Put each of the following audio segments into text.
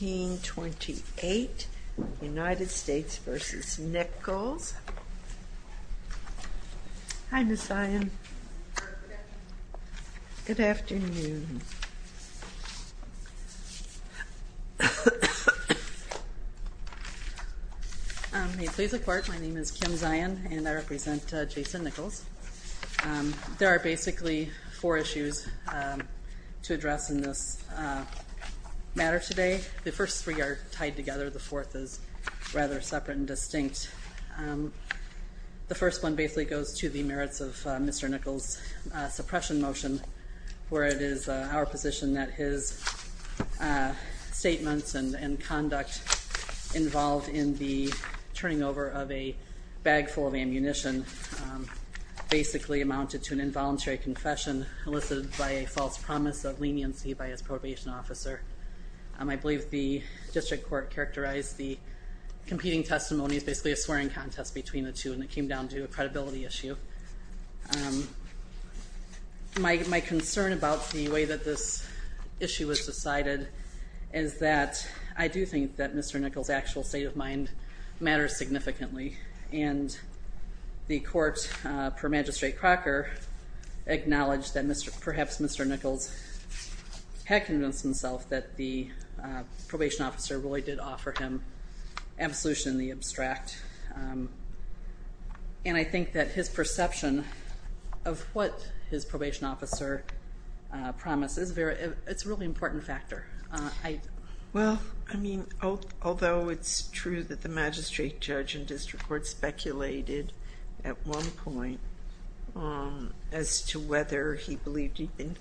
1828 United States v. Nichols. Hi Ms. Zion. Good afternoon. May it please the court, my name is Kim Zion and I represent Jason Nichols. There are basically four issues to address in this matter today. The first three are tied together, the fourth is rather separate and distinct. The first one basically goes to the merits of Mr. Nichols' suppression motion where it is our position that his statements and conduct involved in the turning over of a bag full of ammunition basically amounted to an involuntary confession elicited by a false promise of leniency by his probation officer. I believe the district court characterized the competing testimony as basically a swearing contest between the two and it came down to a credibility issue. My concern about the way that this issue was decided is that I do think that Mr. Nichols' state of mind matters significantly and the court per Magistrate Crocker acknowledged that perhaps Mr. Nichols had convinced himself that the probation officer really did offer him absolution in the abstract and I think that his perception of what his probation officer promised is very, it's true that the magistrate judge and district court speculated at one point as to whether he believed he'd been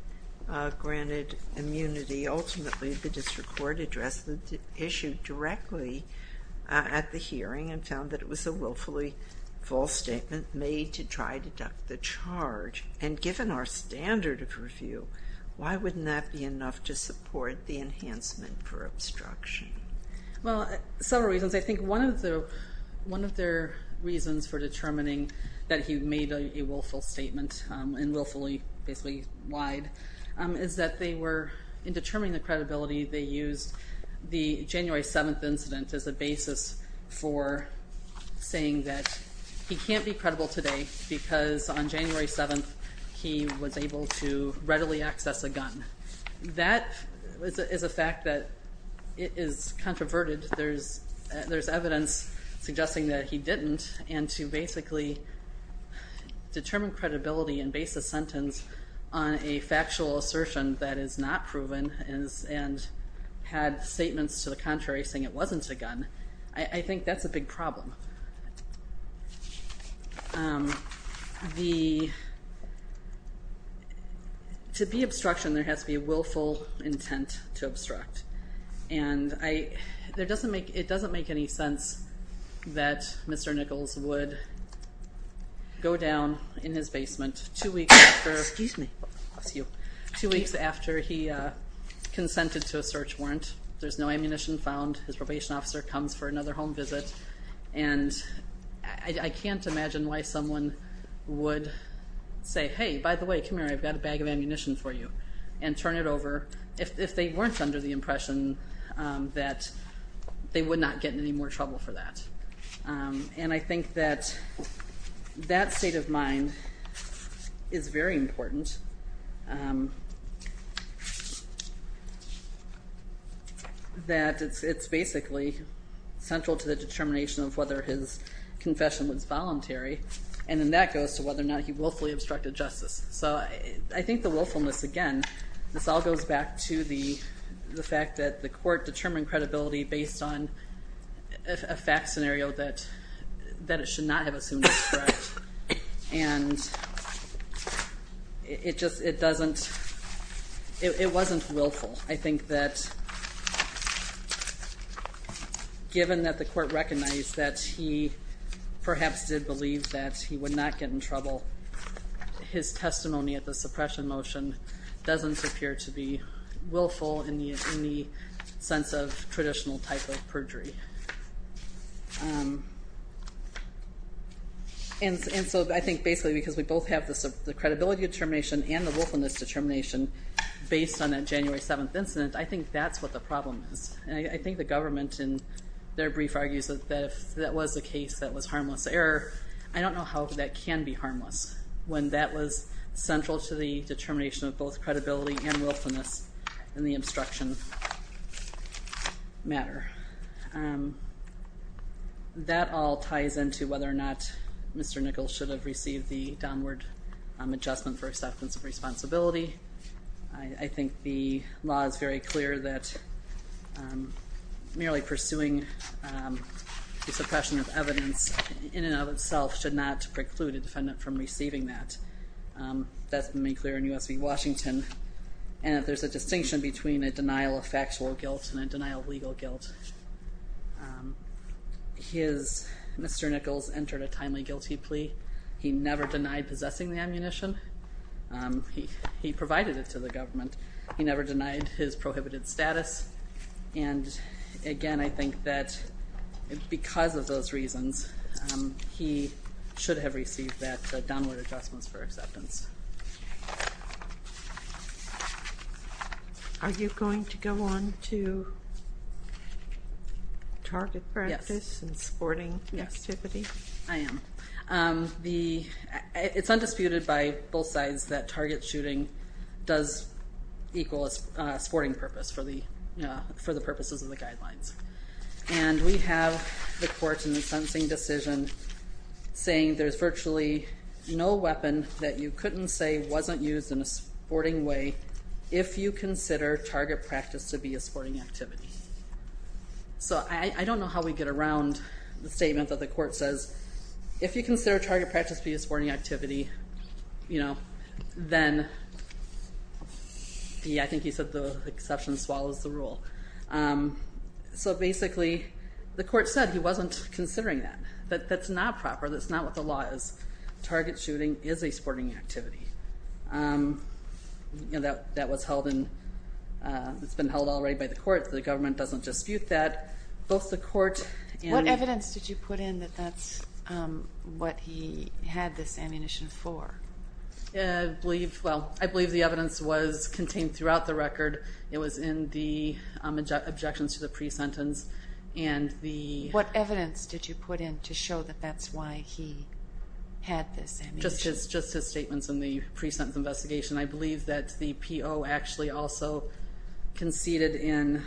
granted immunity. Ultimately the district court addressed the issue directly at the hearing and found that it was a willfully false statement made to try to duck the charge and given our standard of review why wouldn't that be enough to support the enhancement for obstruction? Well, several reasons. I think one of the one of their reasons for determining that he made a willful statement and willfully basically lied is that they were in determining the credibility they used the January 7th incident as a basis for saying that he can't be credible today because on January 7th he was able to readily access a gun. That is a fact that is controverted. There's evidence suggesting that he didn't and to basically determine credibility and base a sentence on a factual assertion that is not proven and had statements to the contrary saying it wasn't a gun. I think that's a big problem. To be obstruction there has to be a willful intent to obstruct and it doesn't make any sense that Mr. Nichols would go down in his basement two weeks after he consented to a search warrant. There's no ammunition found. His probation officer comes for another home visit and I can't imagine why someone would say hey by the way come here I've got a bag of ammunition for you and turn it over if they weren't under the impression that they would not get in any more trouble for that. And I think that that state of mind is very important. That it's basically central to the determination of whether his confession was voluntary and then that goes to whether or not he willfully obstructed justice. So I think the willfulness again this all goes back to the fact that the court determined credibility based on a fact scenario that that it should not have assumed and it just it doesn't it wasn't willful. I think that given that the court recognized that he perhaps did believe that he would not get in trouble his testimony at the suppression motion doesn't appear to be willful in the sense of traditional type of perjury. And so I think basically because we both have the credibility determination and the willfulness determination based on that January 7th incident I think that's what the problem is and I think the government in their brief argues that if that was the case that was harmless error I don't know how that can be harmless when that was central to the matter. That all ties into whether or not Mr. Nichols should have received the downward adjustment for acceptance of responsibility. I think the law is very clear that merely pursuing the suppression of evidence in and of itself should not preclude a defendant from receiving that. That's been made clear in factual guilt and a denial of legal guilt. Mr. Nichols entered a timely guilty plea. He never denied possessing the ammunition. He provided it to the government. He never denied his prohibited status and again I think that because of those reasons he should have received that downward adjustments for target practice and sporting activity. I am. It's undisputed by both sides that target shooting does equal a sporting purpose for the purposes of the guidelines and we have the courts in the sentencing decision saying there's virtually no weapon that you couldn't say wasn't used in a sporting activity. So I don't know how we get around the statement that the court says if you consider target practice be a sporting activity you know then yeah I think he said the exception swallows the rule. So basically the court said he wasn't considering that but that's not proper that's not what the law is. Target shooting is a sporting activity. You know that that was held in it's been held already by the court. The government doesn't dispute that. Both the court and. What evidence did you put in that that's what he had this ammunition for? I believe well I believe the evidence was contained throughout the record. It was in the objections to the pre-sentence and the. What evidence did you put in to show that that's why he had this? Just his just his statements in the pre-sentence investigation. I believe that the PO actually also conceded in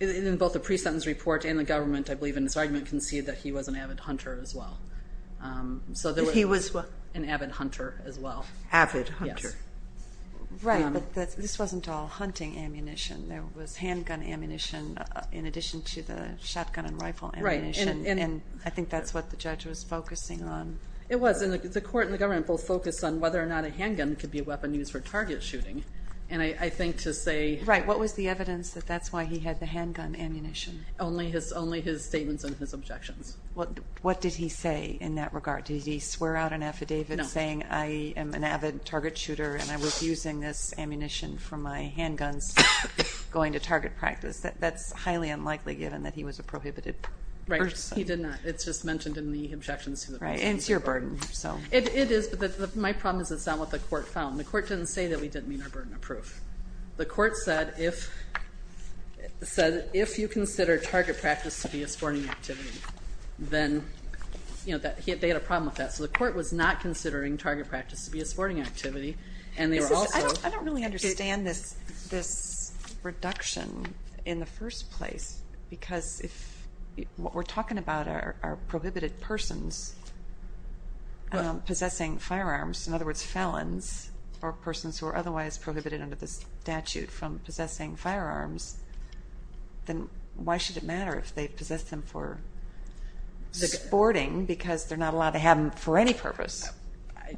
in both the pre-sentence report and the government I believe in this argument conceded that he was an avid hunter as well. So that he was an avid hunter as well. Avid hunter. Right this wasn't all hunting ammunition there was handgun ammunition in addition to the shotgun and rifle ammunition and I think that's what the judge was focusing on. It was and the court and the government both focused on whether or not a handgun could be a weapon used for target shooting and I think to say. Right what was the evidence that that's why he had the handgun ammunition? Only his only his statements and his objections. Well what did he say in that regard? Did he swear out an affidavit saying I am an avid target shooter and I was using this ammunition for my handguns going to target practice? That's highly unlikely given that he was a prohibited person. He did not it's just mentioned in the objections. Right and it's your burden so. It is but my problem is it's not what the court found. The court didn't say that we didn't mean our burden of proof. The court said if said if you consider target practice to be a sporting activity then you know that they had a problem with that. So the court was not considering target practice to be a sporting activity and they were also. I don't really understand this this first place because if what we're talking about are prohibited persons possessing firearms in other words felons or persons who are otherwise prohibited under the statute from possessing firearms then why should it matter if they possess them for sporting because they're not allowed to have them for any purpose?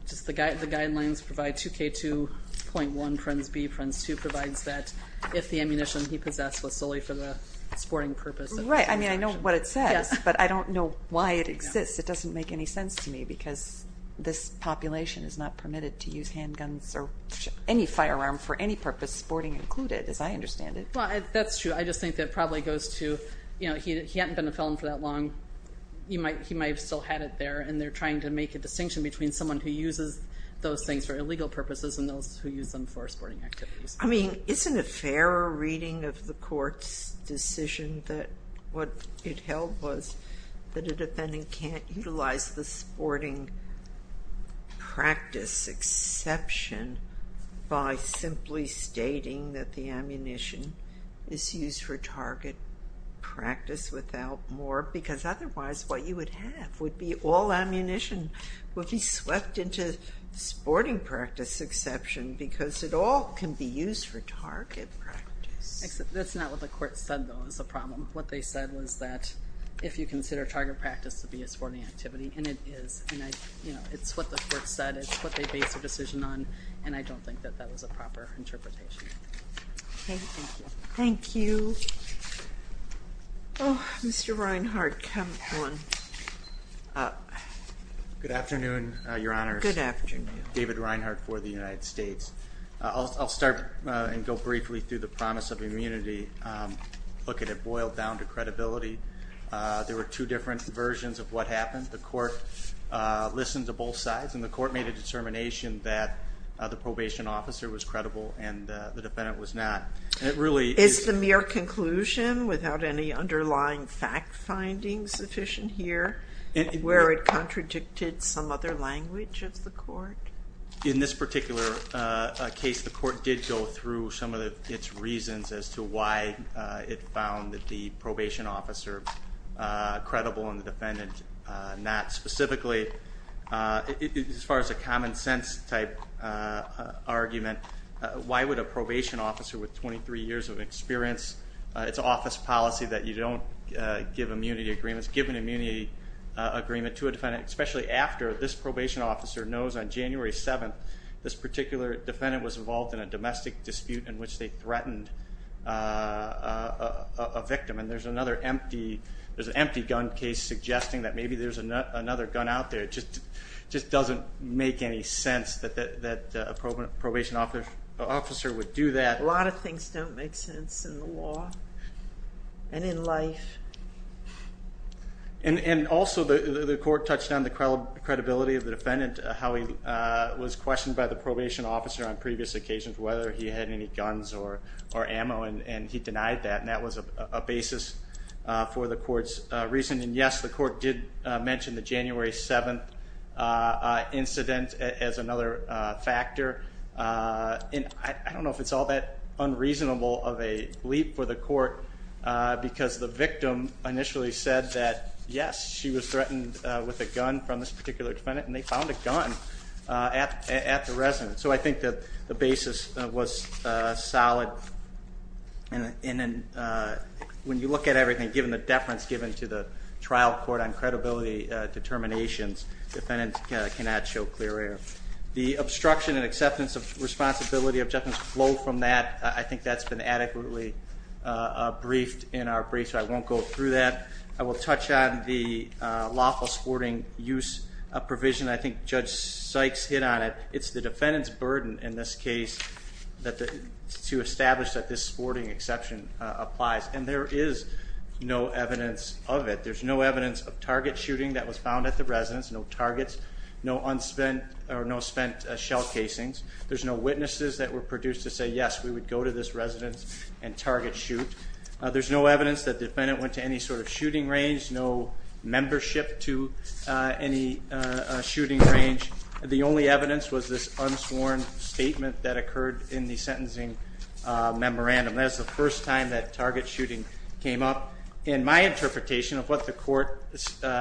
Just the guidelines provide 2k2.1 provides that if the ammunition he possessed was solely for the sporting purpose. Right I mean I know what it says but I don't know why it exists it doesn't make any sense to me because this population is not permitted to use handguns or any firearm for any purpose sporting included as I understand it. Well that's true I just think that probably goes to you know he hadn't been a felon for that long you might he might have still had it there and they're trying to make a distinction between someone who uses those things for illegal purposes and those who use them for sporting activities. I mean isn't it fairer reading of the court's decision that what it held was that a defendant can't utilize the sporting practice exception by simply stating that the ammunition is used for target practice without more because otherwise what you would have would be all ammunition would be swept into sporting practice exception because it all can be used for target practice. That's not what the court said though is a problem what they said was that if you consider target practice to be a sporting activity and it is and I you know it's what the court said it's what they base their decision on and I don't think that that was a Good afternoon Your Honor. Good afternoon. David Reinhart for the United States. I'll start and go briefly through the promise of immunity look at it boiled down to credibility there were two different versions of what happened the court listened to both sides and the court made a determination that the probation officer was credible and the defendant was not and it really is the mere conclusion without any underlying fact-finding sufficient here and where it contradicted some other language of the court. In this particular case the court did go through some of the its reasons as to why it found that the probation officer credible and the defendant not specifically as far as a common-sense type argument why would a probation officer with 23 years of experience it's office policy that you don't give immunity agreements given immunity agreement to a defendant especially after this probation officer knows on January 7th this particular defendant was involved in a domestic dispute in which they threatened a victim and there's another empty there's an empty gun case suggesting that maybe there's another gun out there it just just doesn't make any sense that that a probate probation officer would do that. A lot of things don't make sense in the law and in life. And also the court touched on the credibility of the defendant how he was questioned by the probation officer on previous occasions whether he had any guns or or ammo and and he denied that and that was a basis for the court's reasoning yes the court did mention the January 7th incident as another factor and I don't know if it's all that unreasonable of a leap for the court because the victim initially said that yes she was threatened with a gun from this particular defendant and they found a gun at the residence so I think that the basis was solid and in and when you look at everything given the deference given to the trial court on credibility determinations defendants cannot show clear error. The obstruction and acceptance of responsibility objections flow from that I think that's been adequately briefed in our brief so I won't go through that. I will touch on the lawful sporting use a provision I think Judge Sykes hit on it it's the defendant's burden in this case that the to establish that this sporting exception applies and there is no evidence of it there's no evidence of target shooting that was found at the residence no targets no unspent or no shell casings there's no witnesses that were produced to say yes we would go to this residence and target shoot there's no evidence that defendant went to any sort of shooting range no membership to any shooting range the only evidence was this unsworn statement that occurred in the sentencing memorandum that's the first time that target shooting came up in my interpretation of what the court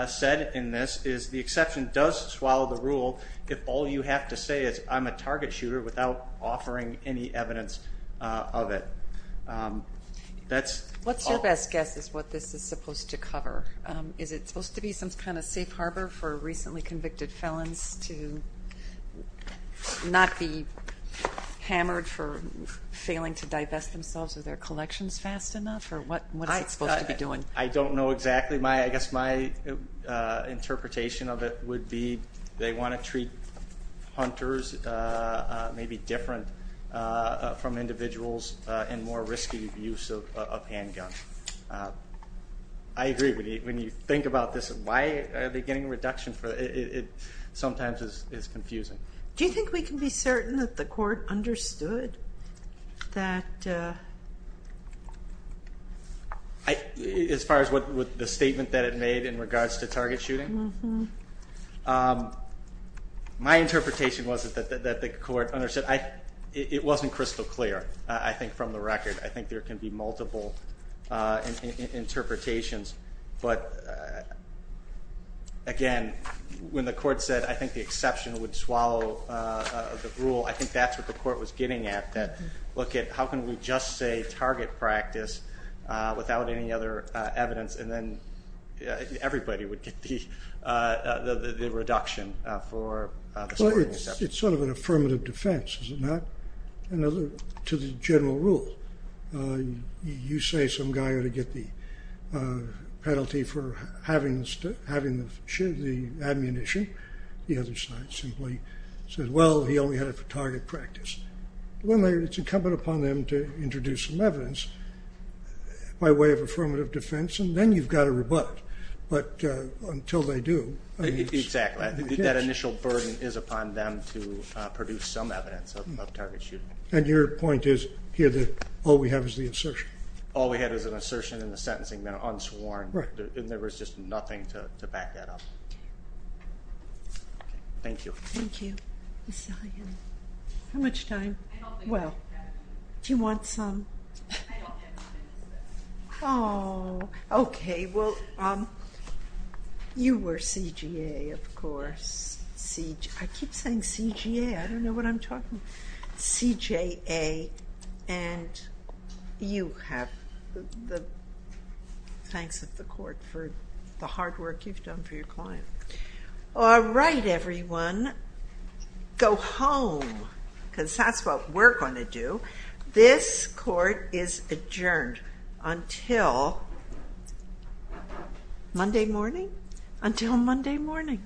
said in this is the exception does swallow the rule if all you have to say is I'm a target shooter without offering any evidence of it that's what's your best guess is what this is supposed to cover is it supposed to be some kind of safe harbor for recently convicted felons to not be hammered for failing to divest themselves of their collections fast enough or what what it's supposed to be doing I don't know exactly my I guess my interpretation of it would be they want to treat hunters maybe different from individuals and more risky use of handguns I agree with you when you think about this why are they getting a reduction for it sometimes is confusing do you think we can be certain that the court understood that I as far as what with the statement that it made in regards to target shooting my interpretation was that the court understood I it wasn't crystal clear I think from the record I think there can be multiple interpretations but again when the court said I think the rule I think that's what the court was getting at that look at how can we just say target practice without any other evidence and then everybody would get the reduction for it's sort of an affirmative defense is not another to the general rule you say some guy ought to get the penalty for having this to the ammunition the other side simply said well he only had a target practice when they're it's incumbent upon them to introduce some evidence by way of affirmative defense and then you've got a robot but until they do exactly that initial burden is upon them to produce some evidence of target shooting and your point is here that all we have is the assertion all we had is an assertion the sentencing that are unsworn right and there was just nothing to back that up thank you thank you how much time well do you want some oh okay well you were CGA of course see I keep saying CGA I don't know what I'm talking CJA and you have the thanks of the court for the hard work you've done for your client all right everyone go home because that's what we're going to do this court is adjourned until Monday morning until Monday morning The Court is adjourned.